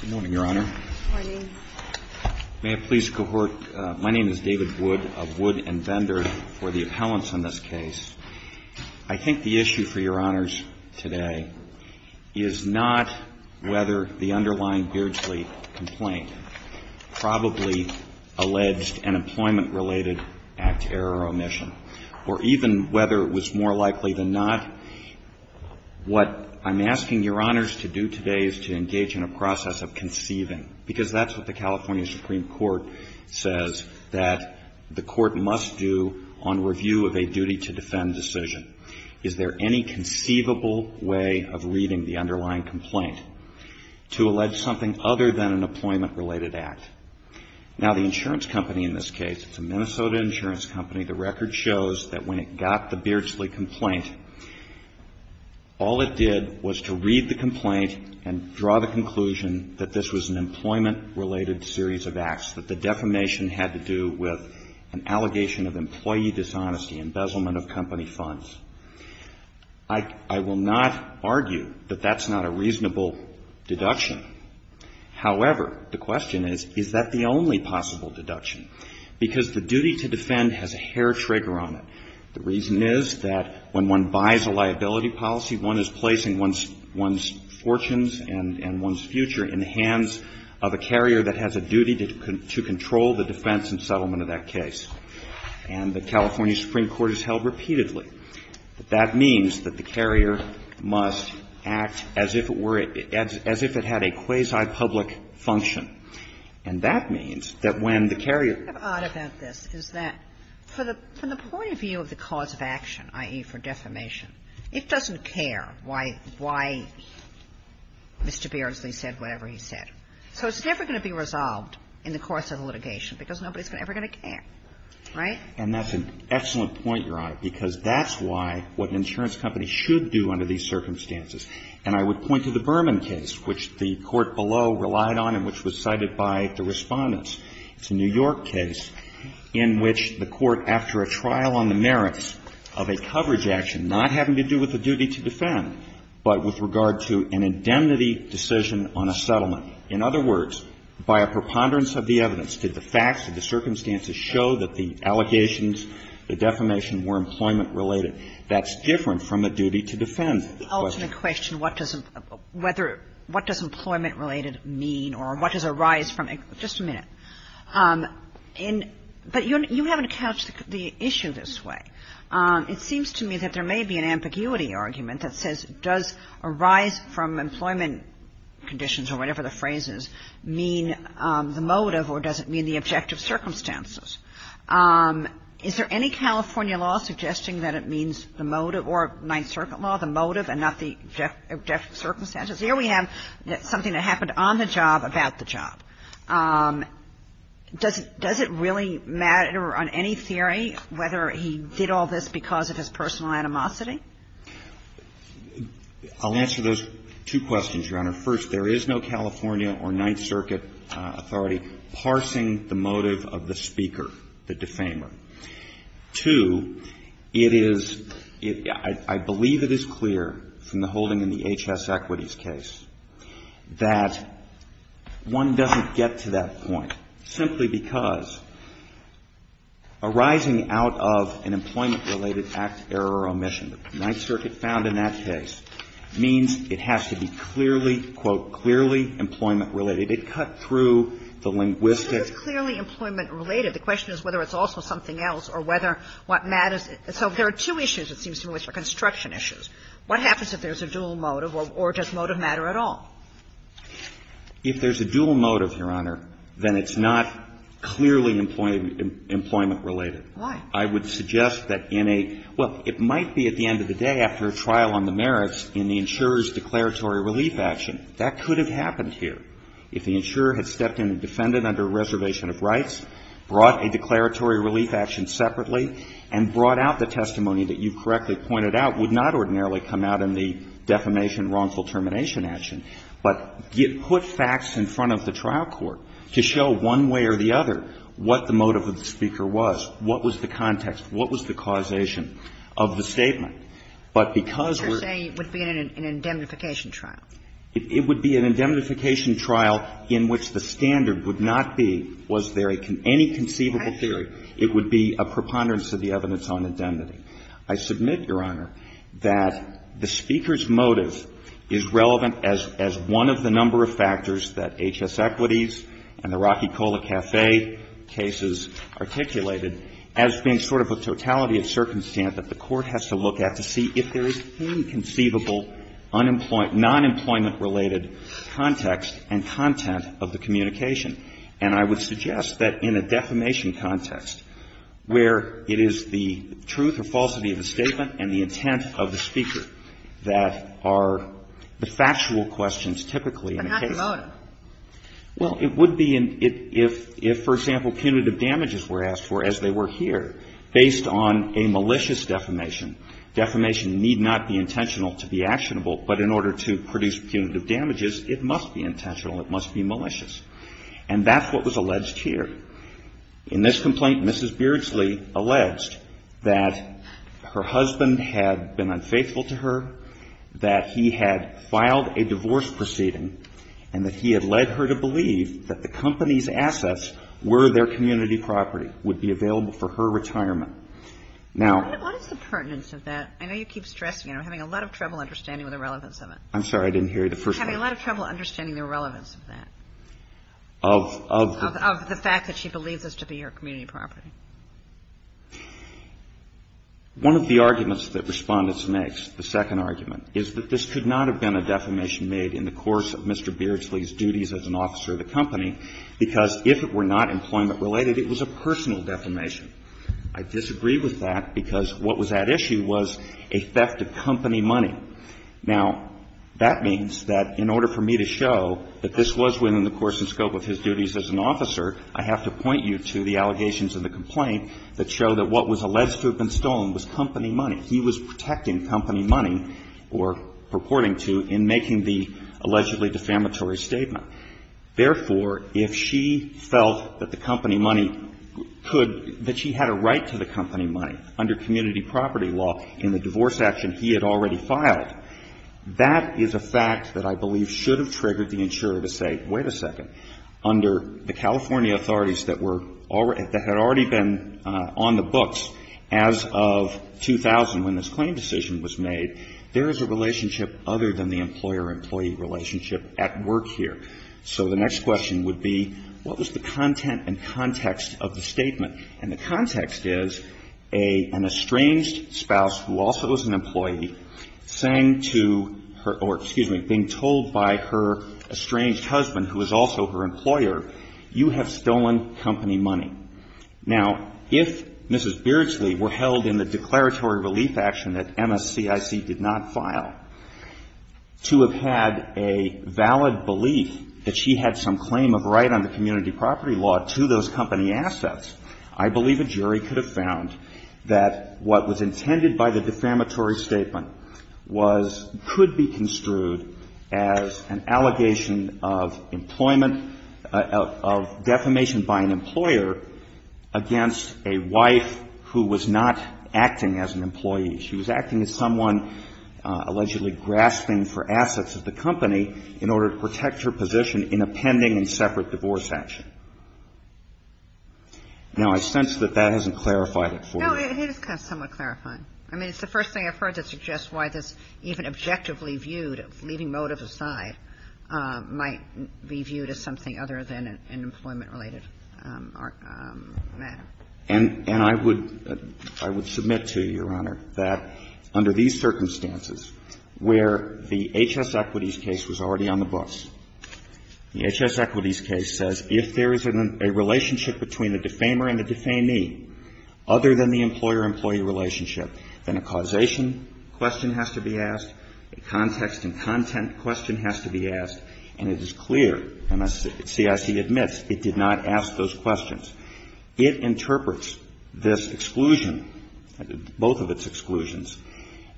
Good morning, Your Honor. Good morning. May I please cohort? My name is David Wood of Wood and Bender for the appellants on this case. I think the issue for Your Honors today is not whether the underlying Beardsley complaint probably alleged an employment-related act error or omission, or even whether it was more likely than not. What I'm asking Your Honors to do today is to engage in a process of conceiving, because that's what the California Supreme Court says that the court must do on review of a duty-to-defend decision. Is there any conceivable way of reading the underlying complaint to allege something other than an employment-related act? Now, the insurance company in this case, it's a Minnesota insurance company, the record shows that when it got the Beardsley complaint, all it did was to read the complaint and draw the conclusion that this was an employment-related series of acts, that the defamation had to do with an allegation of employee dishonesty, embezzlement of company funds. I will not argue that that's not a reasonable deduction. However, I will argue that it's not a reasonable deduction, and I will argue that it's not a reasonable deduction, and therefore, the question is, is that the only possible deduction? Because the duty-to-defend has a hair-trigger on it. The reason is that when one buys a liability policy, one is placing one's fortunes and one's future in the hands of a carrier that has a duty to control the defense and settlement of that case. And the California case is a quasi-public function. And that means that when the carrier ---- Kagan What's odd about this is that from the point of view of the cause of action, i.e., for defamation, it doesn't care why Mr. Beardsley said whatever he said. So it's never going to be resolved in the course of the litigation because nobody's ever going to care, right? And that's an excellent point, Your Honor, because that's why what an insurance company should do under these circumstances. And I would point to the Berman case, which the court below relied on and which was cited by the Respondents. It's a New York case in which the court, after a trial on the merits of a coverage action not having to do with the duty-to-defend, but with regard to an indemnity decision on a settlement. In other words, by a preponderance of the evidence, did the facts and the circumstances show that the allegations, the defamation, were employment-related? That's different from a duty-to-defend question. And you mentioned what does employment-related mean or what does a rise from employment-related mean. But you haven't couched the issue this way. It seems to me that there may be an ambiguity argument that says, does a rise from employment conditions or whatever the phrase is mean the motive or does it mean the objective circumstances? Is there any California law suggesting that it means the motive or the objective circumstances? Here we have something that happened on the job, about the job. Does it really matter on any theory whether he did all this because of his personal animosity? I'll answer those two questions, Your Honor. First, there is no California or Ninth Circuit authority parsing the motive of the speaker, the defamer. Two, it is – I believe it is clear from the holding in the HS Equities case that one doesn't get to that point simply because a rising out of an employment-related act, error or omission, the Ninth Circuit found in that case, means it has to be clearly, quote, clearly employment-related. It cut through the linguistic – So there are two issues that seem to me which are construction issues. What happens if there is a dual motive or does motive matter at all? If there is a dual motive, Your Honor, then it's not clearly employment-related. Why? I would suggest that in a – well, it might be at the end of the day after a trial on the merits in the insurer's declaratory relief action. That could have happened here. If the insurer had stepped in and defended under a reservation of rights, brought a declaratory relief action separately and brought out the testimony that you correctly pointed out, would not ordinarily come out in the defamation-wrongful-termination action, but put facts in front of the trial court to show one way or the other what the motive of the speaker was, what was the context, what was the causation of the statement. But because we're – But you're saying it would be an indemnification trial. It would be an indemnification trial in which the standard would not be, was there any conceivable theory, it would be a preponderance of the evidence on indemnity. I submit, Your Honor, that the speaker's motive is relevant as one of the number of factors that H.S. Equities and the Rocky Cola Café cases articulated as being sort of a totality of circumstance that the court has to look at to see if there is any conceivable non-employment-related context and content of the communication. And I would suggest that in a defamation context, where it is the truth or falsity of the statement and the intent of the speaker that are the factual questions typically in a case. But not the motive. Well, it would be if, for example, punitive damages were asked for, as they were here, based on a malicious defamation. Defamation need not be intentional to be actionable, but in order to produce punitive damages, it must be intentional, it must be malicious. And that's what was alleged here. In this complaint, Mrs. Beardsley alleged that her husband had been unfaithful to her, that he had filed a divorce proceeding, and that he had led her to believe that the company's assets were their community property, would be available for her retirement. Now — What is the pertinence of that? I know you keep stressing it. I'm having a lot of trouble understanding the relevance of it. I'm sorry. I didn't hear you the first time. I'm having a lot of trouble understanding the relevance of that. Of the fact that she believes this to be her community property. One of the arguments that Respondents makes, the second argument, is that this could not have been a defamation made in the course of Mr. Beardsley's duties as an officer of the company, because if it were not employment-related, it was a personal defamation. I disagree with that, because what was at issue was a theft of company money. Now, that means that in order for me to show that this was within the course and scope of his duties as an officer, I have to point you to the allegations in the complaint that show that what was alleged to have been stolen was company money. He was protecting company money, or purporting to, in making the allegedly defamatory statement. Therefore, if she felt that the company money could — that she had a right to the company money under community property law in the divorce action he had already filed, that is a fact that I believe should have triggered the insurer to say, wait a second, under the California authorities that were — that had already been on the books as of 2000, when this claim decision was made, there is a relationship other than the employer-employee relationship at work here. So the next question would be, what was the content and context of the statement? And the context is an estranged spouse who also is an employee saying to her — or, excuse me, being told by her estranged husband, who is also her employer, you have stolen company money. Now, if Mrs. Beardsley were held in the declaratory relief action that MS-CIC did not file, to have had a valid belief that she had some claim of right under community property law to those company assets, I believe a jury could have found that what was intended by the defamatory statement was — could be construed as an allegation of employment — of defamation by an employer against a wife who was not acting as an employee. She was acting as someone allegedly grasping for assets of the company in order to protect her position in a pending and separate divorce action. Now, I sense that that hasn't clarified it for you. No, it is somewhat clarifying. I mean, it's the first thing I've heard that suggests why this even objectively viewed, leaving motives aside, might be viewed as something other than an employment-related matter. And I would — I would submit to you, Your Honor, that under these circumstances where the H.S. Equities case was already on the bus, the H.S. Equities case says, if there is a relationship between the defamer and the defamee other than the employer-employee relationship, then a causation question has to be asked, a context and content question has to be asked, and it is clear, and the CIC admits, it did not ask those questions. It interprets this exclusion, both of its exclusions,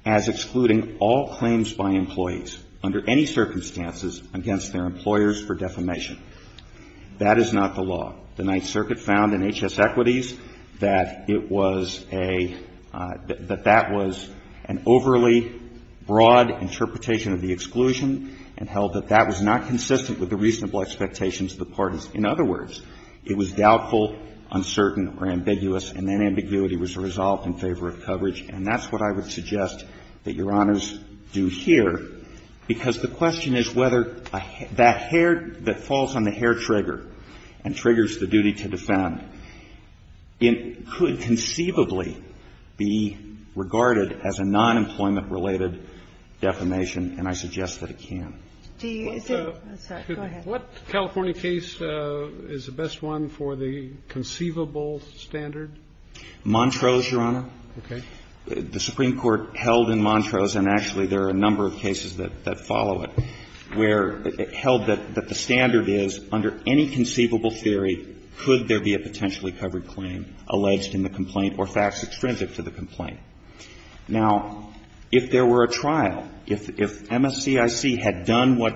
as excluding all claims by employees under any circumstances against their employers for defamation. That is not the law. The Ninth Circuit found in H.S. Equities that it was a — that that was an overly broad interpretation of the exclusion and held that that was not consistent with the reasonable expectations of the parties. In other words, it was doubtful, uncertain, or ambiguous, and that ambiguity was resolved in favor of coverage, and that's what I would suggest that Your Honors do here, because the question is whether that hair that falls on the hair trigger and triggers the duty to defend, it could conceivably be regarded as a non-employment-related defamation, and I suggest that it can. Do you — Go ahead. What California case is the best one for the conceivable standard? Montrose, Your Honor. Okay. The Supreme Court held in Montrose, and actually there are a number of cases that follow it, where it held that the standard is under any conceivable theory could there be a potentially covered claim alleged in the complaint or facts extrinsic to the complaint. Now, if there were a trial, if MSCIC had done what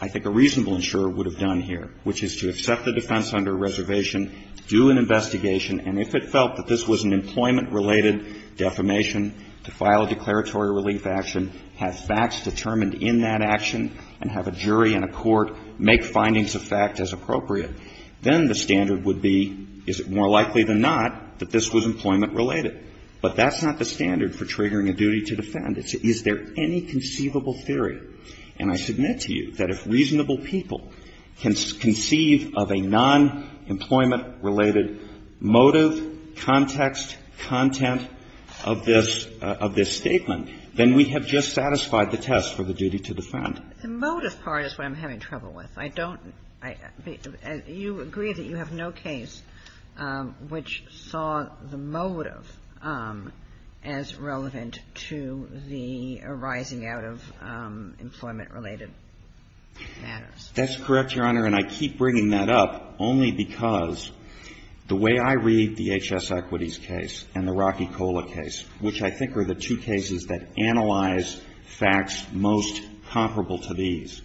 I think a reasonable insurer would have done here, which is to accept the defense under reservation, do an investigation, and if it felt that this was an employment-related defamation, to file a declaratory relief action, have facts determined in that action, and have a jury and a court make findings of fact as appropriate, then the standard would be, is it more likely than not that this was employment-related? But that's not the standard for triggering a duty to defend. Is there any conceivable theory? And I submit to you that if reasonable people can conceive of a non-employment- related motive, context, content of this statement, then we have just satisfied the test for the duty to defend. The motive part is what I'm having trouble with. I don't – you agree that you have no case which saw the motive as relevant to the arising out of employment-related matters. That's correct, Your Honor. And I keep bringing that up only because the way I read the HS Equities case and the Rocky Cola case, which I think are the two cases that analyze facts most comparable to these,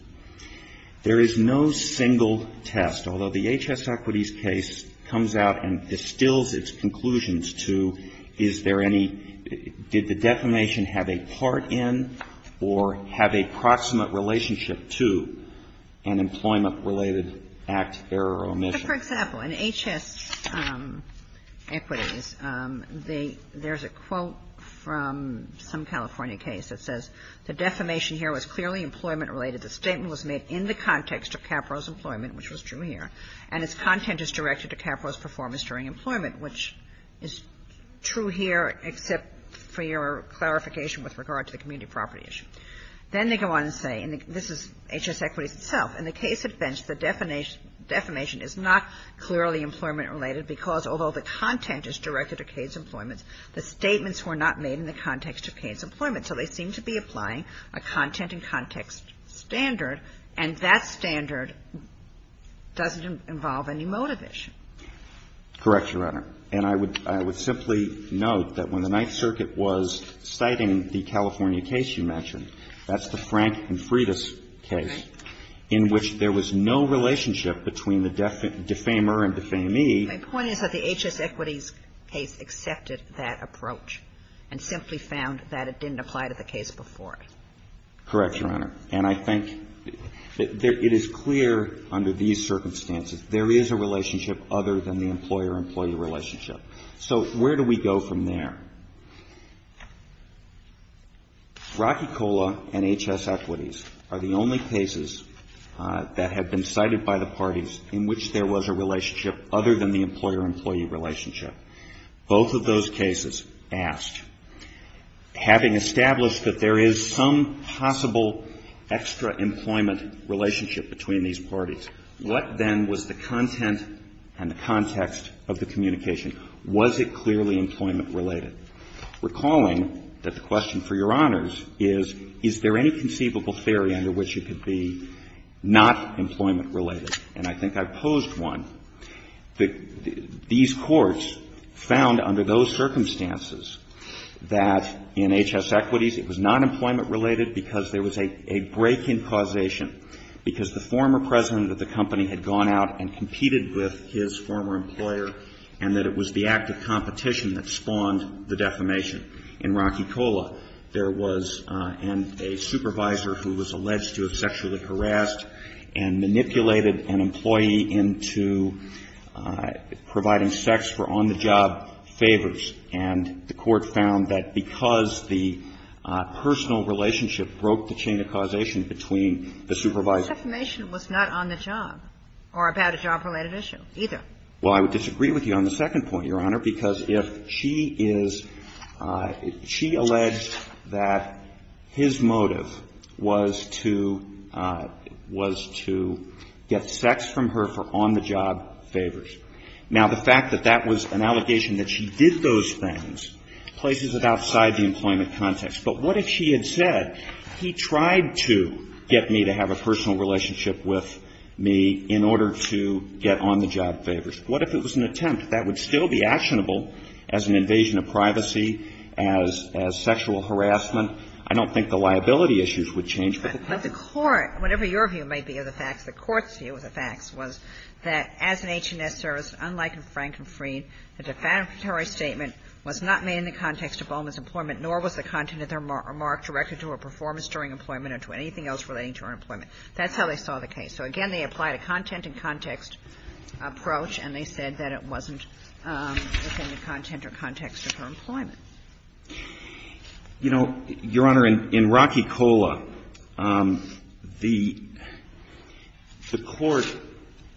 there is no single test, although the HS Equities case comes out and distills its conclusions to is there any – did the defamation have a part in or have a proximate relationship to an employment-related act, error, or omission? For example, in HS Equities, they – there's a quote from some California case that says, the defamation here was clearly employment-related. The statement was made in the context of Capra's employment, which was true here. And its content is directed to Capra's performance during employment, which is true here except for your clarification with regard to the community property issue. Then they go on and say, and this is HS Equities itself, in the case of Bench, the defamation is not clearly employment-related because, although the content is directed to Cade's employment, the statements were not made in the context of Cade's employment, so they seem to be applying a content and context standard, and that standard doesn't involve any motivation. Correct, Your Honor. And I would – I would simply note that when the Ninth Circuit was citing the California case you mentioned, that's the Frank and Freitas case, in which there was no relationship between the defamer and defamee. My point is that the HS Equities case accepted that approach and simply found that it didn't apply to the case before it. Correct, Your Honor. And I think that it is clear under these circumstances there is a relationship other than the employer-employee relationship. So where do we go from there? Rocky Cola and HS Equities are the only cases that have been cited by the parties in which there was a relationship other than the employer-employee relationship. Both of those cases asked, having established that there is some possible extra employment relationship between these parties, what then was the content and the context of the communication? Was it clearly employment-related? Recalling that the question for Your Honors is, is there any conceivable theory under which it could be not employment-related? And I think I posed one. These courts found under those circumstances that in HS Equities it was not employment-related because there was a break-in causation, because the former president of the company had gone out and competed with his former employer, and that it was the act of competition that spawned the defamation. In Rocky Cola, there was a supervisor who was alleged to have sexually harassed and manipulated an employee into providing sex for on-the-job favors. And the Court found that because the personal relationship broke the chain of causation between the supervisor and the employee, the defamation was not on the job or about a job-related issue either. Well, I would disagree with you on the second point, Your Honor, because if she is — she alleged that his motive was to — was to get sex from her for on-the-job favors. Now, the fact that that was an allegation that she did those things places it outside the employment context. But what if she had said, he tried to get me to have a personal relationship with me in order to get on-the-job favors? What if it was an attempt? That would still be actionable as an invasion of privacy, as sexual harassment. I don't think the liability issues would change. But the court — whatever your view may be of the facts, the court's view of the facts was that as an H&S service, unlike in Frank and Freed, the defamatory statement was not made in the context of Bowman's employment, nor was the content of their remark directed to her performance during employment or to anything else relating to her employment. That's how they saw the case. So, again, they applied a content-in-context approach, and they said that it wasn't within the content or context of her employment. You know, Your Honor, in Rocky Cola, the court,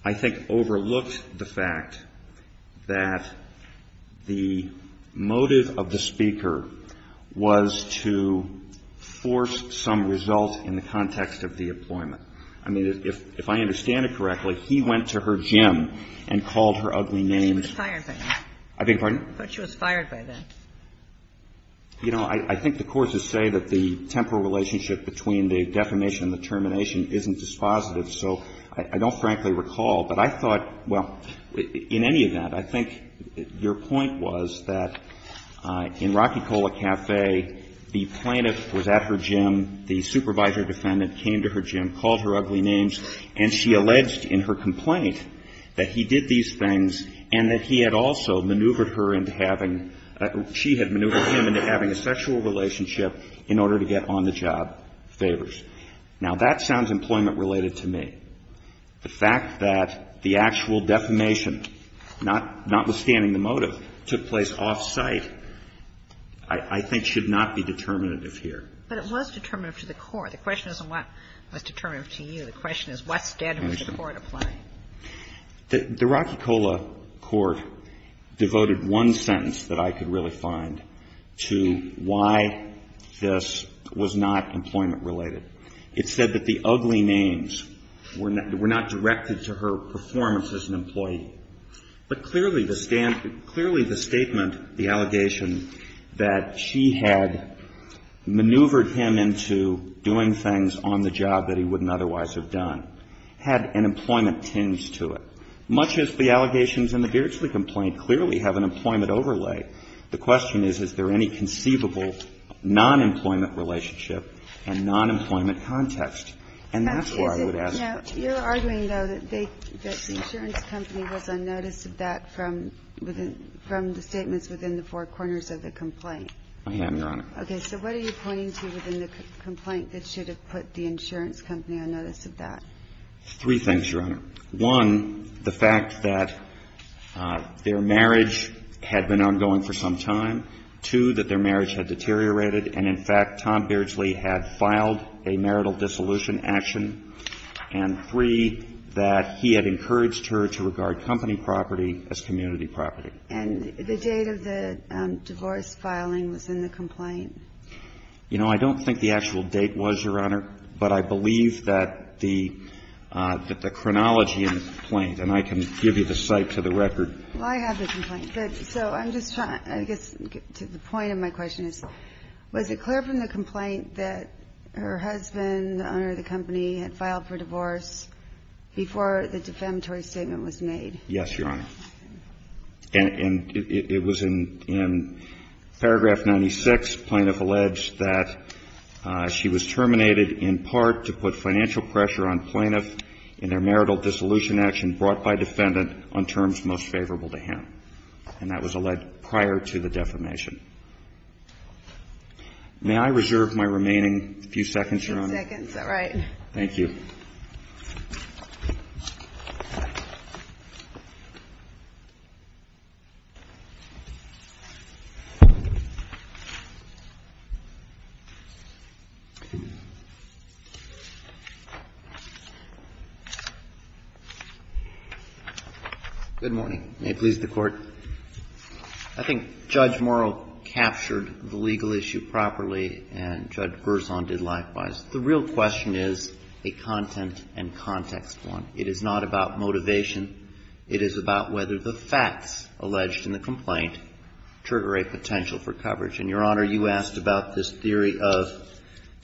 I think, overlooked the fact that the motive of the speaker was to force some result in the context of the employment or the content of her employment. I mean, if I understand it correctly, he went to her gym and called her ugly names. She was fired by them. I beg your pardon? I thought she was fired by them. You know, I think the courts would say that the temporal relationship between the defamation and the termination isn't dispositive. So I don't frankly recall. But I thought — well, in any event, I think your point was that in Rocky Cola Cafe, the plaintiff was at her gym, the supervisor defendant came to her gym, called her ugly names, and she alleged in her complaint that he did these things and that he had also maneuvered her into having — she had maneuvered him into having a sexual relationship in order to get on the job favors. Now, that sounds employment-related to me. The fact that the actual defamation, notwithstanding the motive, took place off-site I think should not be determinative here. But it was determinative to the court. The question isn't what was determinative to you. The question is what standard would the court apply. The Rocky Cola Court devoted one sentence that I could really find to why this was not employment-related. It said that the ugly names were not directed to her performance as an employee. But clearly the — clearly the statement, the allegation, that she had maneuvered him into doing things on the job that he wouldn't otherwise have done had an employment tinge to it. Much as the allegations in the Geertzley complaint clearly have an employment overlay, the question is, is there any conceivable nonemployment relationship and nonemployment context? And that's where I would ask the question. Now, you're arguing, though, that they — that the insurance company was on notice of that from within — from the statements within the four corners of the complaint. I am, Your Honor. Okay. So what are you pointing to within the complaint that should have put the insurance company on notice of that? Three things, Your Honor. One, the fact that their marriage had been ongoing for some time. Two, that their marriage had deteriorated. And in fact, Tom Beardsley had filed a marital dissolution action. And three, that he had encouraged her to regard company property as community property. And the date of the divorce filing was in the complaint? You know, I don't think the actual date was, Your Honor. But I believe that the — that the chronology in the complaint, and I can give you the site to the record. Well, I have the complaint. So I'm just trying — I guess the point of my question is, was it clear from the complaint that her husband, the owner of the company, had filed for divorce before the defamatory statement was made? Yes, Your Honor. And it was in paragraph 96. Plaintiff alleged that she was terminated in part to put financial pressure on plaintiff in their marital dissolution action brought by defendant on terms most favorable to him. And that was alleged prior to the defamation. May I reserve my remaining few seconds, Your Honor? Six seconds. All right. Thank you. Good morning. May it please the Court. I think Judge Morrow captured the legal issue properly, and Judge Berzon did likewise. The real question is a content and context one. It is not about motivation. It is about whether the facts alleged in the complaint trigger a potential for coverage. And, Your Honor, you asked about this theory of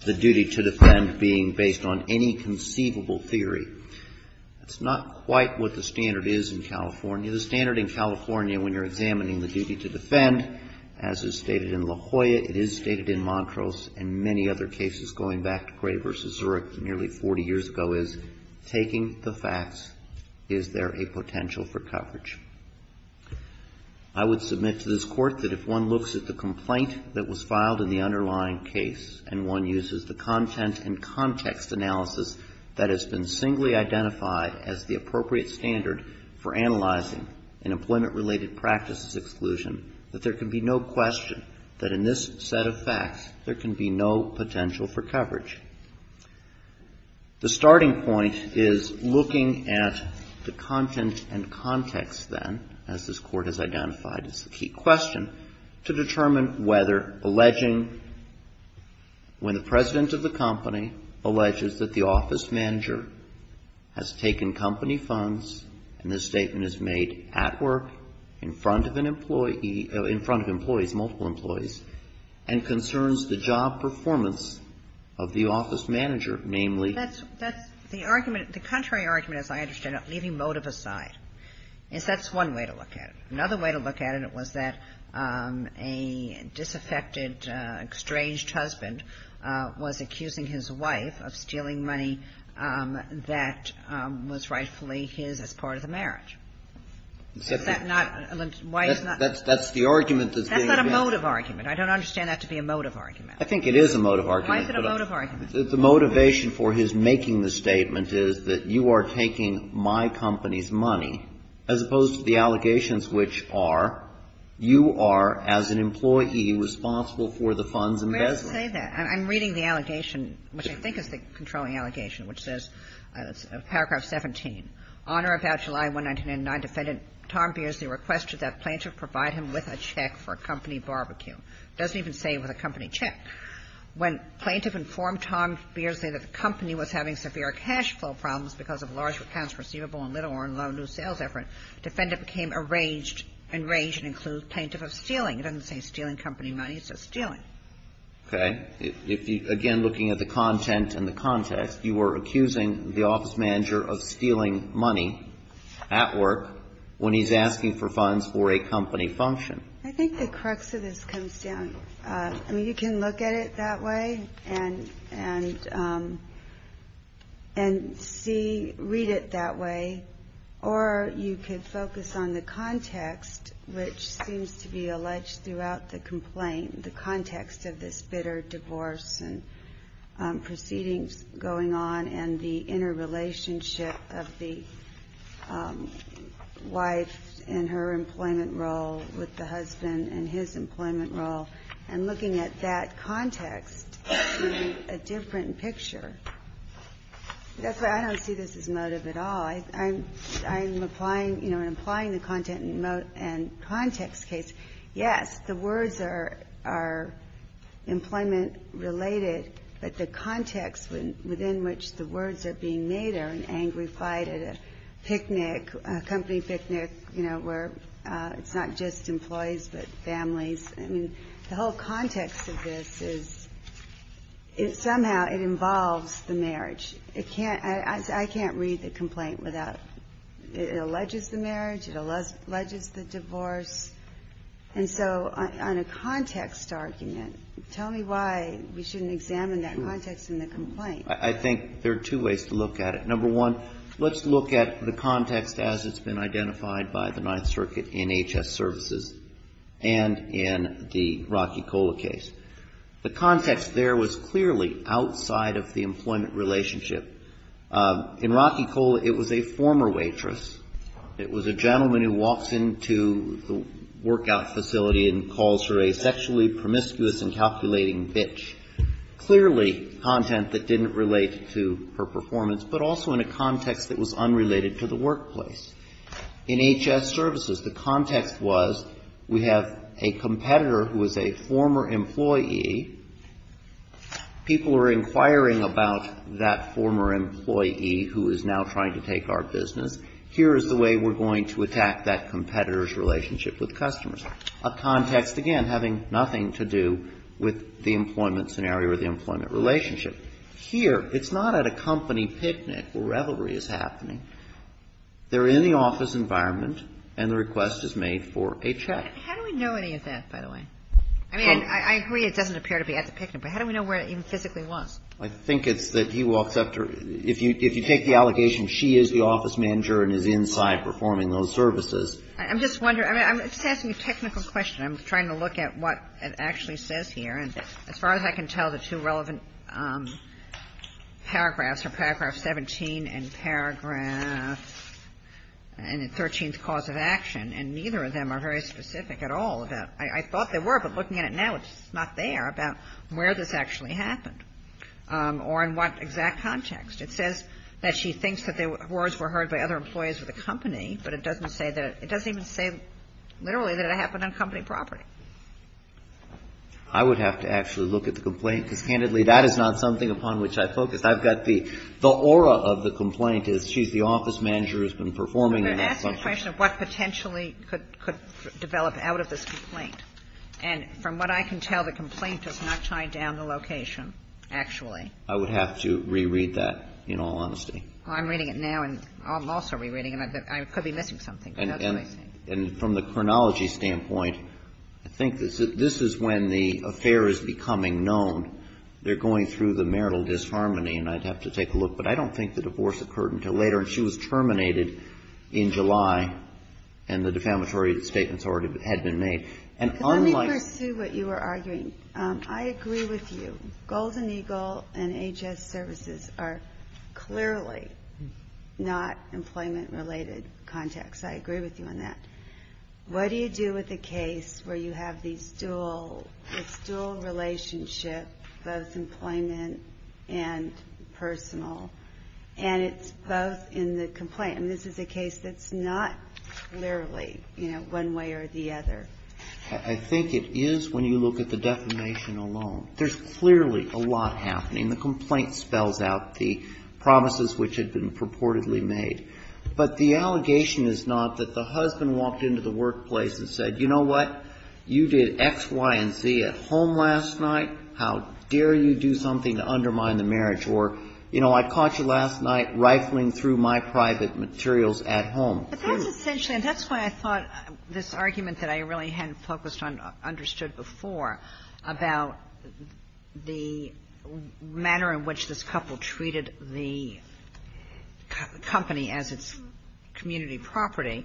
the duty to defend being based on any conceivable theory. That's not quite what the standard is in California. The standard in California when you're examining the duty to defend, as is stated in La Jolla, it is stated in Montrose, and many other cases going back to Gray v. Zurich nearly 40 years ago, is taking the facts, is there a potential for coverage? I would submit to this Court that if one looks at the complaint that was filed in the underlying case, and one uses the content and context analysis that has been singly identified as the appropriate standard for analyzing an employment related practices exclusion, that there can be no question that in this set of facts there can be no potential for coverage. The starting point is looking at the content and context then, as this Court has identified as the key question, to determine whether alleging when the President of the company alleges that the office manager has taken company funds, and this is a case where the President of the company is in front of an employee or in front of employees, multiple employees, and concerns the job performance of the office manager, namely the office manager. That's the argument, the contrary argument, as I understand it, leaving motive aside, is that's one way to look at it. Another way to look at it was that a disaffected, estranged husband was accusing his wife of stealing money that was rightfully his as part of the marriage. Is that not why he's not? That's the argument that's being made. That's not a motive argument. I don't understand that to be a motive argument. I think it is a motive argument. Why is it a motive argument? The motivation for his making the statement is that you are taking my company's money, as opposed to the allegations which are you are, as an employee, responsible for the fund's embezzlement. Where does it say that? I'm reading the allegation, which I think is the controlling allegation, which says, paragraph 17, Honor about July 1999, Defendant Tom Beardsley requested that plaintiff provide him with a check for a company barbecue. It doesn't even say with a company check. When plaintiff informed Tom Beardsley that the company was having severe cash flow problems because of large accounts receivable and little or no new sales effort, Defendant became enraged, enraged, and included plaintiff of stealing. It doesn't say stealing company money. It says stealing. Okay. Again, looking at the content and the context, you are accusing the office manager of stealing money at work when he's asking for funds for a company function. I think the crux of this comes down. I mean, you can look at it that way and see, read it that way, or you could focus on the context which seems to be alleged throughout the complaint, the context of this bitter divorce and proceedings going on and the interrelationship of the wife in her employment role with the husband in his employment role, and looking at that context in a different picture. That's why I don't see this as motive at all. I'm applying, you know, I'm applying the content and context case. Yes, the words are employment-related, but the context within which the words are being made are an angry fight at a picnic, a company picnic, you know, where it's not just employees but families. I mean, the whole context of this is somehow it involves the marriage. It can't, I can't read the complaint without, it alleges the marriage, it alleges the divorce, and so on a context argument, tell me why we shouldn't examine that context in the complaint. I think there are two ways to look at it. Number one, let's look at the context as it's been identified by the Ninth Circuit in H.S. Services and in the Rocky Cola case. The context there was clearly outside of the employment relationship. In Rocky Cola, it was a former waitress. It was a gentleman who walks into the workout facility and calls her a sexually promiscuous and calculating bitch, clearly content that didn't relate to her performance, but also in a context that was unrelated to the workplace. In H.S. Services, the context was we have a competitor who is a former employee. People are inquiring about that former employee who is now trying to take our business. Here is the way we're going to attack that competitor's relationship with customers. A context, again, having nothing to do with the employment scenario or the employment relationship. Here, it's not at a company picnic where revelry is happening. They're in the office environment, and the request is made for a check. How do we know any of that, by the way? I mean, I agree it doesn't appear to be at the picnic, but how do we know where it even physically was? I think it's that he walks up to her. If you take the allegation she is the office manager and is inside performing those services. I'm just wondering. I'm just asking a technical question. I'm trying to look at what it actually says here. And as far as I can tell, the two relevant paragraphs are paragraph 17 and paragraph 13, and neither of them are very specific at all. I thought they were, but looking at it now, it's not there about where this actually happened or in what exact context. It says that she thinks that the words were heard by other employees of the company, but it doesn't say that. It doesn't even say literally that it happened on company property. I would have to actually look at the complaint, because, candidly, that is not something upon which I focus. I've got the aura of the complaint is she's the office manager who's been performing those services. But that's a question of what potentially could develop out of this complaint. And from what I can tell, the complaint does not chime down the location, actually. I would have to reread that, in all honesty. I'm reading it now, and I'm also rereading it. I could be missing something, but that's what I'm saying. And from the chronology standpoint, I think this is when the affair is becoming known. They're going through the marital disharmony, and I'd have to take a look. But I don't think the divorce occurred until later. And she was terminated in July, and the defamatory statements already had been made. And unlike... Let me pursue what you were arguing. I agree with you. Golden Eagle and H.S. Services are clearly not employment-related contacts. I agree with you on that. What do you do with a case where you have this dual relationship, both employment and personal, and it's both in the complaint? I mean, this is a case that's not clearly, you know, one way or the other. I think it is when you look at the defamation alone. There's clearly a lot happening. The complaint spells out the promises which had been purportedly made. But the allegation is not that the husband walked into the workplace and said, you know what, you did X, Y, and Z at home last night. How dare you do something to undermine the marriage? Or, you know, I caught you last night rifling through my private materials at home. But that's essentially why I thought this argument that I really hadn't focused on understood before about the manner in which this couple treated the company as its community property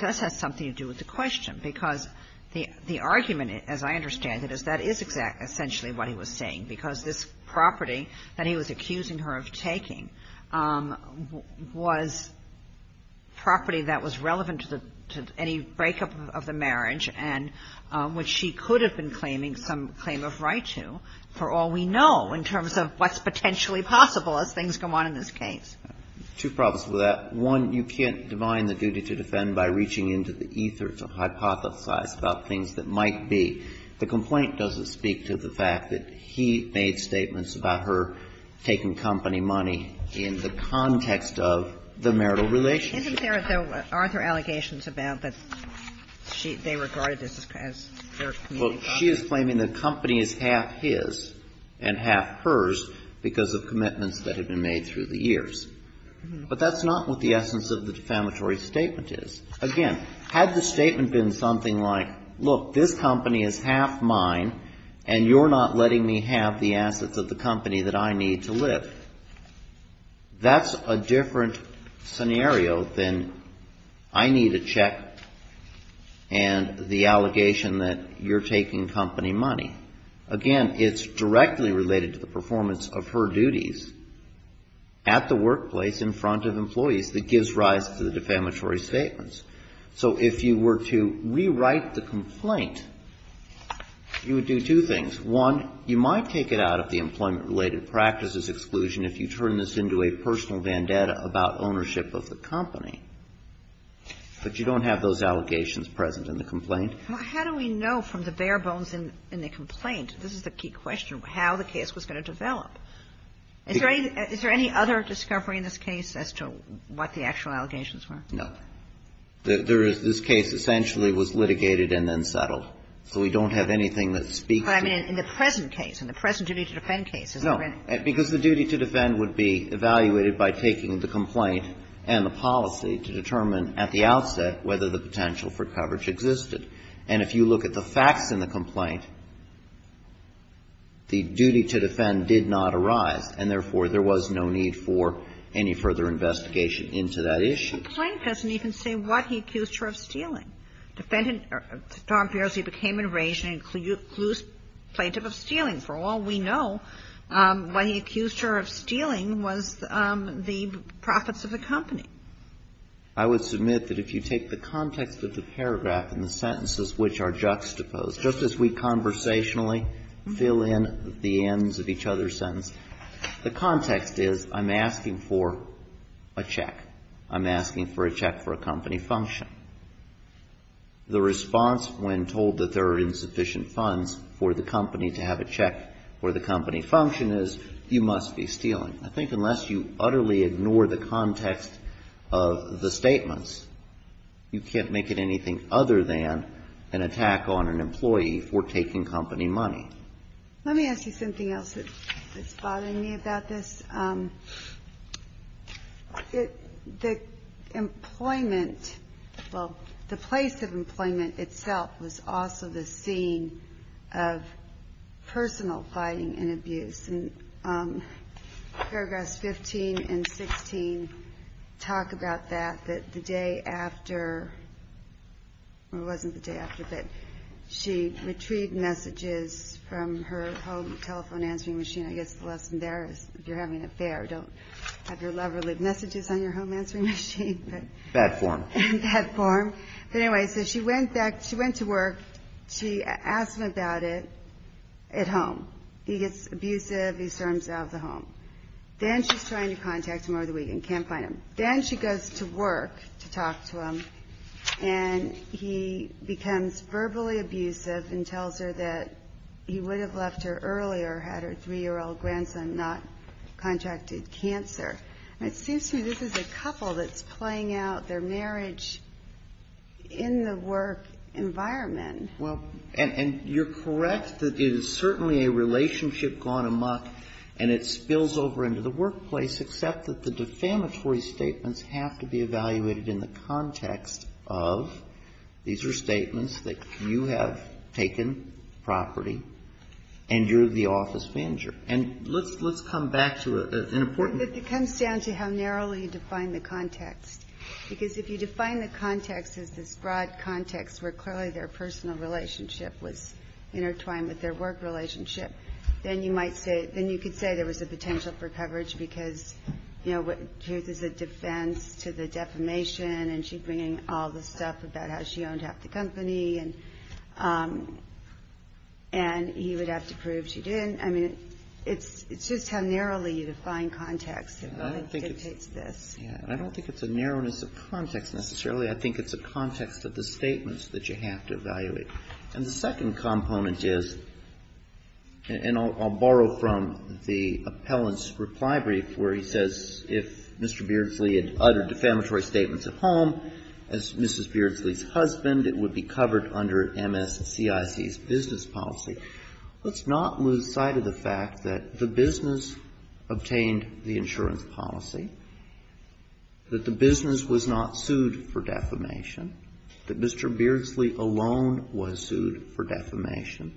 does have something to do with the question. Because the argument, as I understand it, is that is essentially what he was saying, because this property that he was accusing her of taking was property that was relevant to the any breakup of the marriage, and which she could have been claiming some claim of right to for all we know in terms of what's potentially possible as things go on in this case. Two problems with that. One, you can't divine the duty to defend by reaching into the ether to hypothesize about things that might be. The complaint doesn't speak to the fact that he made statements about her taking company money in the context of the marital relationship. But isn't there, though, are there allegations about that they regarded this as their community property? Well, she is claiming the company is half his and half hers because of commitments that have been made through the years. But that's not what the essence of the defamatory statement is. Again, had the statement been something like, look, this company is half mine, and you're not letting me have the assets of the company that I need to live, that's a different scenario than I need a check and the allegation that you're taking company money. Again, it's directly related to the performance of her duties at the workplace in front of employees that gives rise to the defamatory statements. So if you were to rewrite the complaint, you would do two things. One, you might take it out of the employment-related practices exclusion if you turn this into a personal vendetta about ownership of the company. But you don't have those allegations present in the complaint. Well, how do we know from the bare bones in the complaint? This is the key question, how the case was going to develop. Is there any other discovery in this case as to what the actual allegations were? No. There is this case essentially was litigated and then settled. So we don't have anything that speaks to it. But I mean in the present case, in the present duty to defend case. No. Because the duty to defend would be evaluated by taking the complaint and the policy to determine at the outset whether the potential for coverage existed. And if you look at the facts in the complaint, the duty to defend did not arise, and therefore there was no need for any further investigation into that issue. The plaintiff doesn't even say what he accused her of stealing. Defendant, Tom Piers, he became enraged and accused plaintiff of stealing. For all we know, what he accused her of stealing was the profits of the company. I would submit that if you take the context of the paragraph and the sentences which are juxtaposed, just as we conversationally fill in the ends of each other's sentence, the context is I'm asking for a check. I'm asking for a check for a company function. The response when told that there are insufficient funds for the company to have a check for the company function is you must be stealing. I think unless you utterly ignore the context of the statements, you can't make it anything other than an attack on an employee for taking company money. Let me ask you something else that's bothering me about this. The employment, well, the place of employment itself was also the scene of personal fighting and abuse. And paragraphs 15 and 16 talk about that, that the day after, or it wasn't the day after, but she retrieved messages from her home telephone answering machine. I guess the lesson there is if you're having an affair, don't have your lover leave messages on your home answering machine. Bad form. Bad form. But anyway, so she went to work. She asked him about it at home. He gets abusive. He storms out of the home. Then she's trying to contact him over the weekend, can't find him. Then she goes to work to talk to him, and he becomes verbally abusive and tells her that he would have left her earlier had her 3-year-old grandson not contracted cancer. And it seems to me this is a couple that's playing out their marriage in the work environment. Well, and you're correct that it is certainly a relationship gone amok, and it spills over into the workplace, except that the defamatory statements have to be evaluated in the context of these are statements that you have taken property, and you're the office manager. And let's come back to an important one. It comes down to how narrowly you define the context, because if you define the context as this broad context where clearly their personal relationship was intertwined with their work relationship, then you might say you could say there was a potential for coverage because, you know, here's a defense to the defamation, and she's bringing all this stuff about how she owned half the company, and he would have to prove she didn't. I mean, it's just how narrowly you define context that dictates this. I don't think it's a narrowness of context necessarily. I think it's a context of the statements that you have to evaluate. And the second component is, and I'll borrow from the appellant's reply brief where he says if Mr. Beardsley had uttered defamatory statements at home as Mrs. Beardsley's husband, it would be covered under MSCIC's business policy. Let's not lose sight of the fact that the business obtained the insurance policy, that the business was not sued for defamation, that Mr. Beardsley alone was sued for defamation,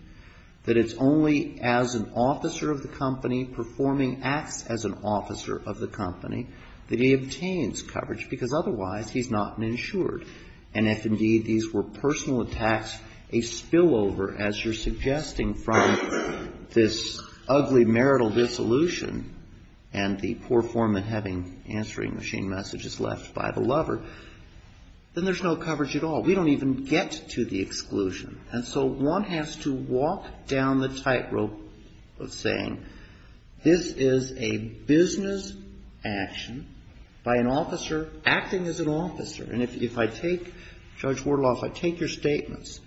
that it's only as an officer of the company performing acts as an officer of the company that he obtains coverage because otherwise he's not insured. And if indeed these were personal attacks, a spillover as you're suggesting from this ugly marital dissolution and the poor foreman having answering machine messages left by the lover, then there's no coverage at all. We don't even get to the exclusion. And so one has to walk down the tightrope of saying this is a business action by an officer acting as an officer. And if I take, Judge Wardlaw, if I take your statements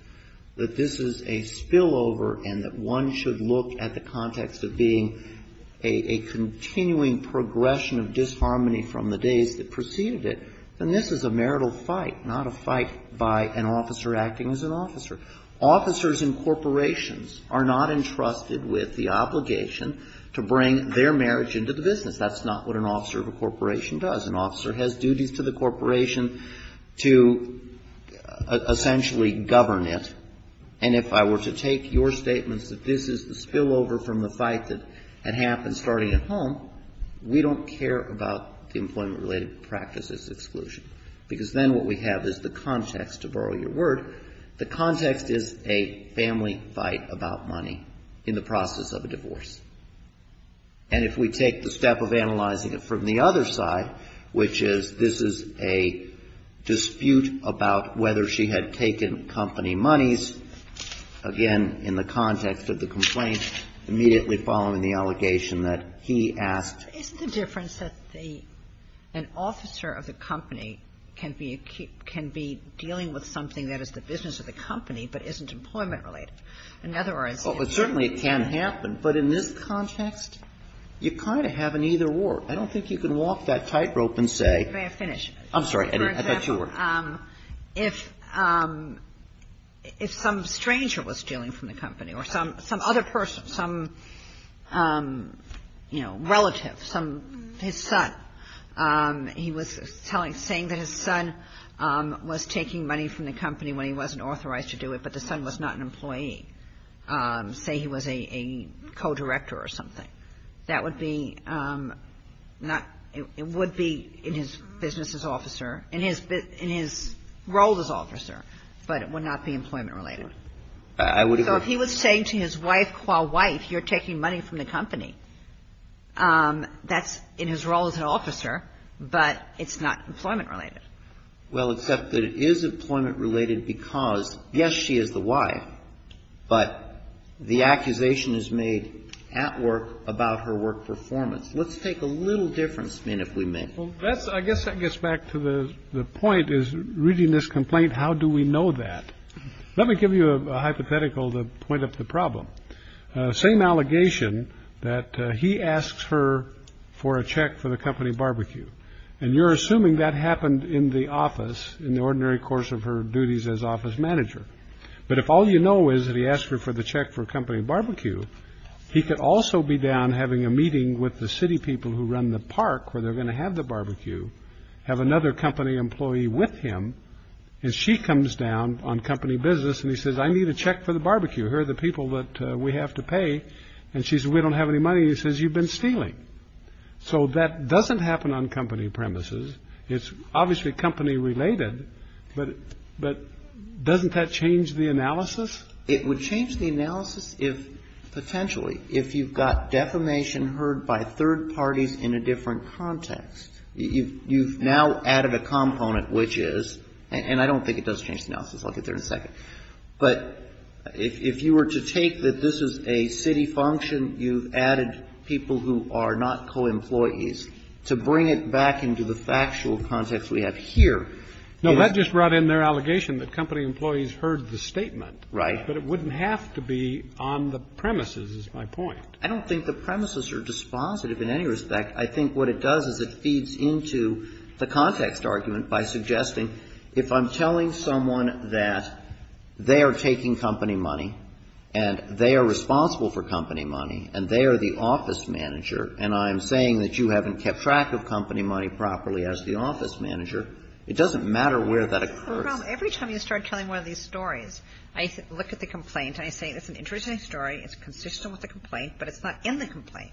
that this is a spillover and that one should look at the context of being a continuing progression of disharmony from the days that preceded it, then this is a marital fight, not a fight by an officer acting as an officer. Officers in corporations are not entrusted with the obligation to bring their marriage into the business. That's not what an officer of a corporation does. An officer has duties to the corporation to essentially govern it. And if I were to take your statements that this is the spillover from the fight that had happened starting at home, we don't care about the employment-related practices exclusion. Because then what we have is the context, to borrow your word, the context is a family fight about money in the process of a divorce. And if we take the step of analyzing it from the other side, which is this is a dispute about whether she had taken company monies or not, that is, again, in the context of the complaint, immediately following the allegation that he asked. It's the difference that the an officer of the company can be dealing with something that is the business of the company but isn't employment-related. In other words. Well, but certainly it can happen. But in this context, you kind of have an either-or. I don't think you can walk that tightrope and say. May I finish? I'm sorry. I thought you were. If some stranger was stealing from the company or some other person, some, you know, relative, his son, he was saying that his son was taking money from the company when he wasn't authorized to do it, but the son was not an employee, say he was a co-director or something, that would be not, it would be in his business as officer, in his role as officer, but it would not be employment-related. I would agree. So if he was saying to his wife, co-wife, you're taking money from the company, that's in his role as an officer, but it's not employment-related. Well, except that it is employment-related because, yes, she is the wife, but the accusation is made at work about her work performance. Let's take a little different spin, if we may. Well, I guess that gets back to the point is reading this complaint, how do we know that? Let me give you a hypothetical to point up the problem. Same allegation that he asks her for a check for the company barbecue, and you're assuming that happened in the office in the ordinary course of her duties as office manager. But if all you know is that he asked her for the check for a company barbecue, he could also be down having a meeting with the city people who run the park where they're going to have the barbecue, have another company employee with him, and she comes down on company business, and he says, I need a check for the barbecue. Here are the people that we have to pay. And she says, we don't have any money. He says, you've been stealing. So that doesn't happen on company premises. It's obviously company related, but doesn't that change the analysis? It would change the analysis if, potentially, if you've got defamation heard by third parties in a different context. You've now added a component, which is, and I don't think it does change the analysis. I'll get there in a second. But if you were to take that this is a city function, you've added people who are not co-employees to bring it back into the factual context we have here. No, that just brought in their allegation that company employees heard the statement. Right. But it wouldn't have to be on the premises, is my point. I don't think the premises are dispositive in any respect. I think what it does is it feeds into the context argument by suggesting if I'm telling a story and I say, this is an interesting story, this is consistent with the complaint, but it's not in the complaint, it doesn't matter where that occurs. Every time you start telling one of these stories, I look at the complaint, and I say it's an interesting story, it's consistent with the complaint, but it's not in the complaint.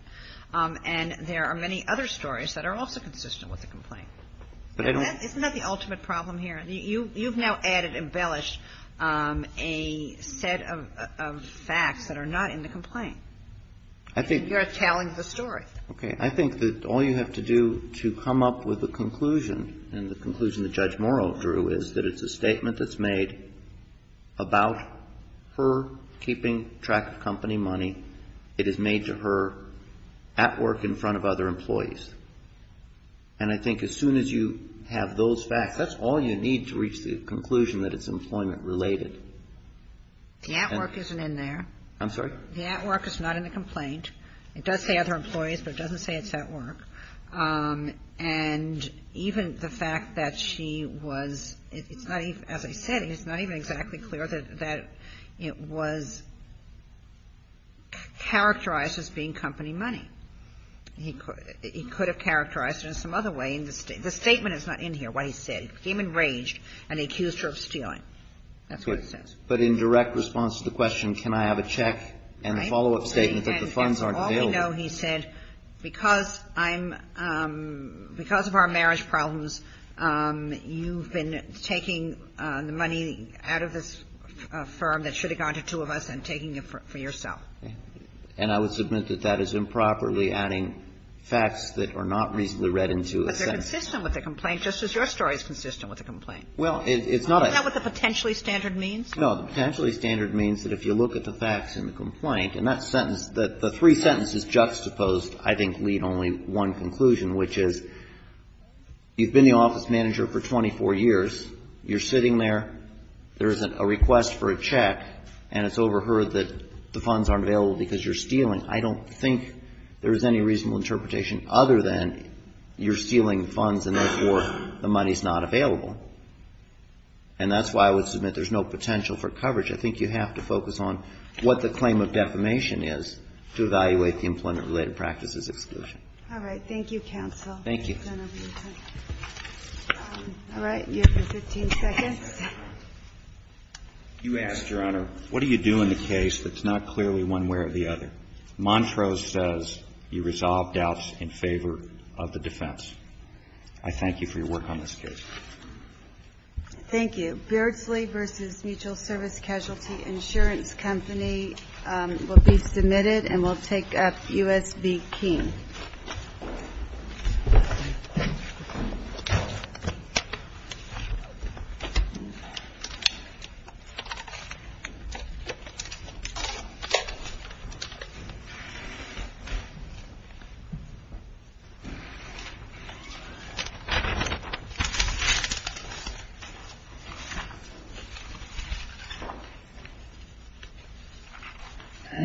And there are many other stories that are also consistent with the complaint. Isn't that the ultimate problem here? You've now added, embellished a set of facts that are not in the complaint. You're telling the story. Okay. I think that all you have to do to come up with a conclusion, and the conclusion that Judge Morrow drew, is that it's a statement that's made about her keeping track of company money. It is made to her at work in front of other employees. And I think as soon as you have those facts, that's all you need to reach the conclusion that it's employment related. The at work isn't in there. I'm sorry? The at work is not in the complaint. It does say other employees, but it doesn't say it's at work. And even the fact that she was, as I said, it's not even exactly clear that it was characterized as being company money. He could have characterized it in some other way. The statement is not in here, what he said. He became enraged and accused her of stealing. That's what it says. But in direct response to the question, can I have a check and a follow-up statement that the funds aren't available? All we know, he said, because I'm, because of our marriage problems, you've been taking the money out of this firm that should have gone to two of us and taking it for yourself. And I would submit that that is improperly adding facts that are not reasonably read into a sentence. But they're consistent with the complaint, just as your story is consistent with the complaint. Well, it's not a Is that what the potentially standard means? No. The potentially standard means that if you look at the facts in the complaint and that sentence, that the three sentences juxtaposed I think lead only one conclusion, which is you've been the office manager for 24 years, you're sitting there, there is a request for a check, and it's overheard that the funds aren't available because you're stealing. I don't think there's any reasonable interpretation other than you're stealing funds and, therefore, the money's not available. And that's why I would submit there's no potential for coverage. I think you have to focus on what the claim of defamation is to evaluate the employment-related practices exclusion. All right. Thank you, counsel. Thank you. All right. You have 15 seconds. You asked, Your Honor, what do you do in the case that's not clearly one way or the other? Montrose says you resolve doubts in favor of the defense. I thank you for your work on this case. Thank you. Beardsley v. Mutual Service Casualty Insurance Company will be submitted and will take up U.S. v. King. Thank you.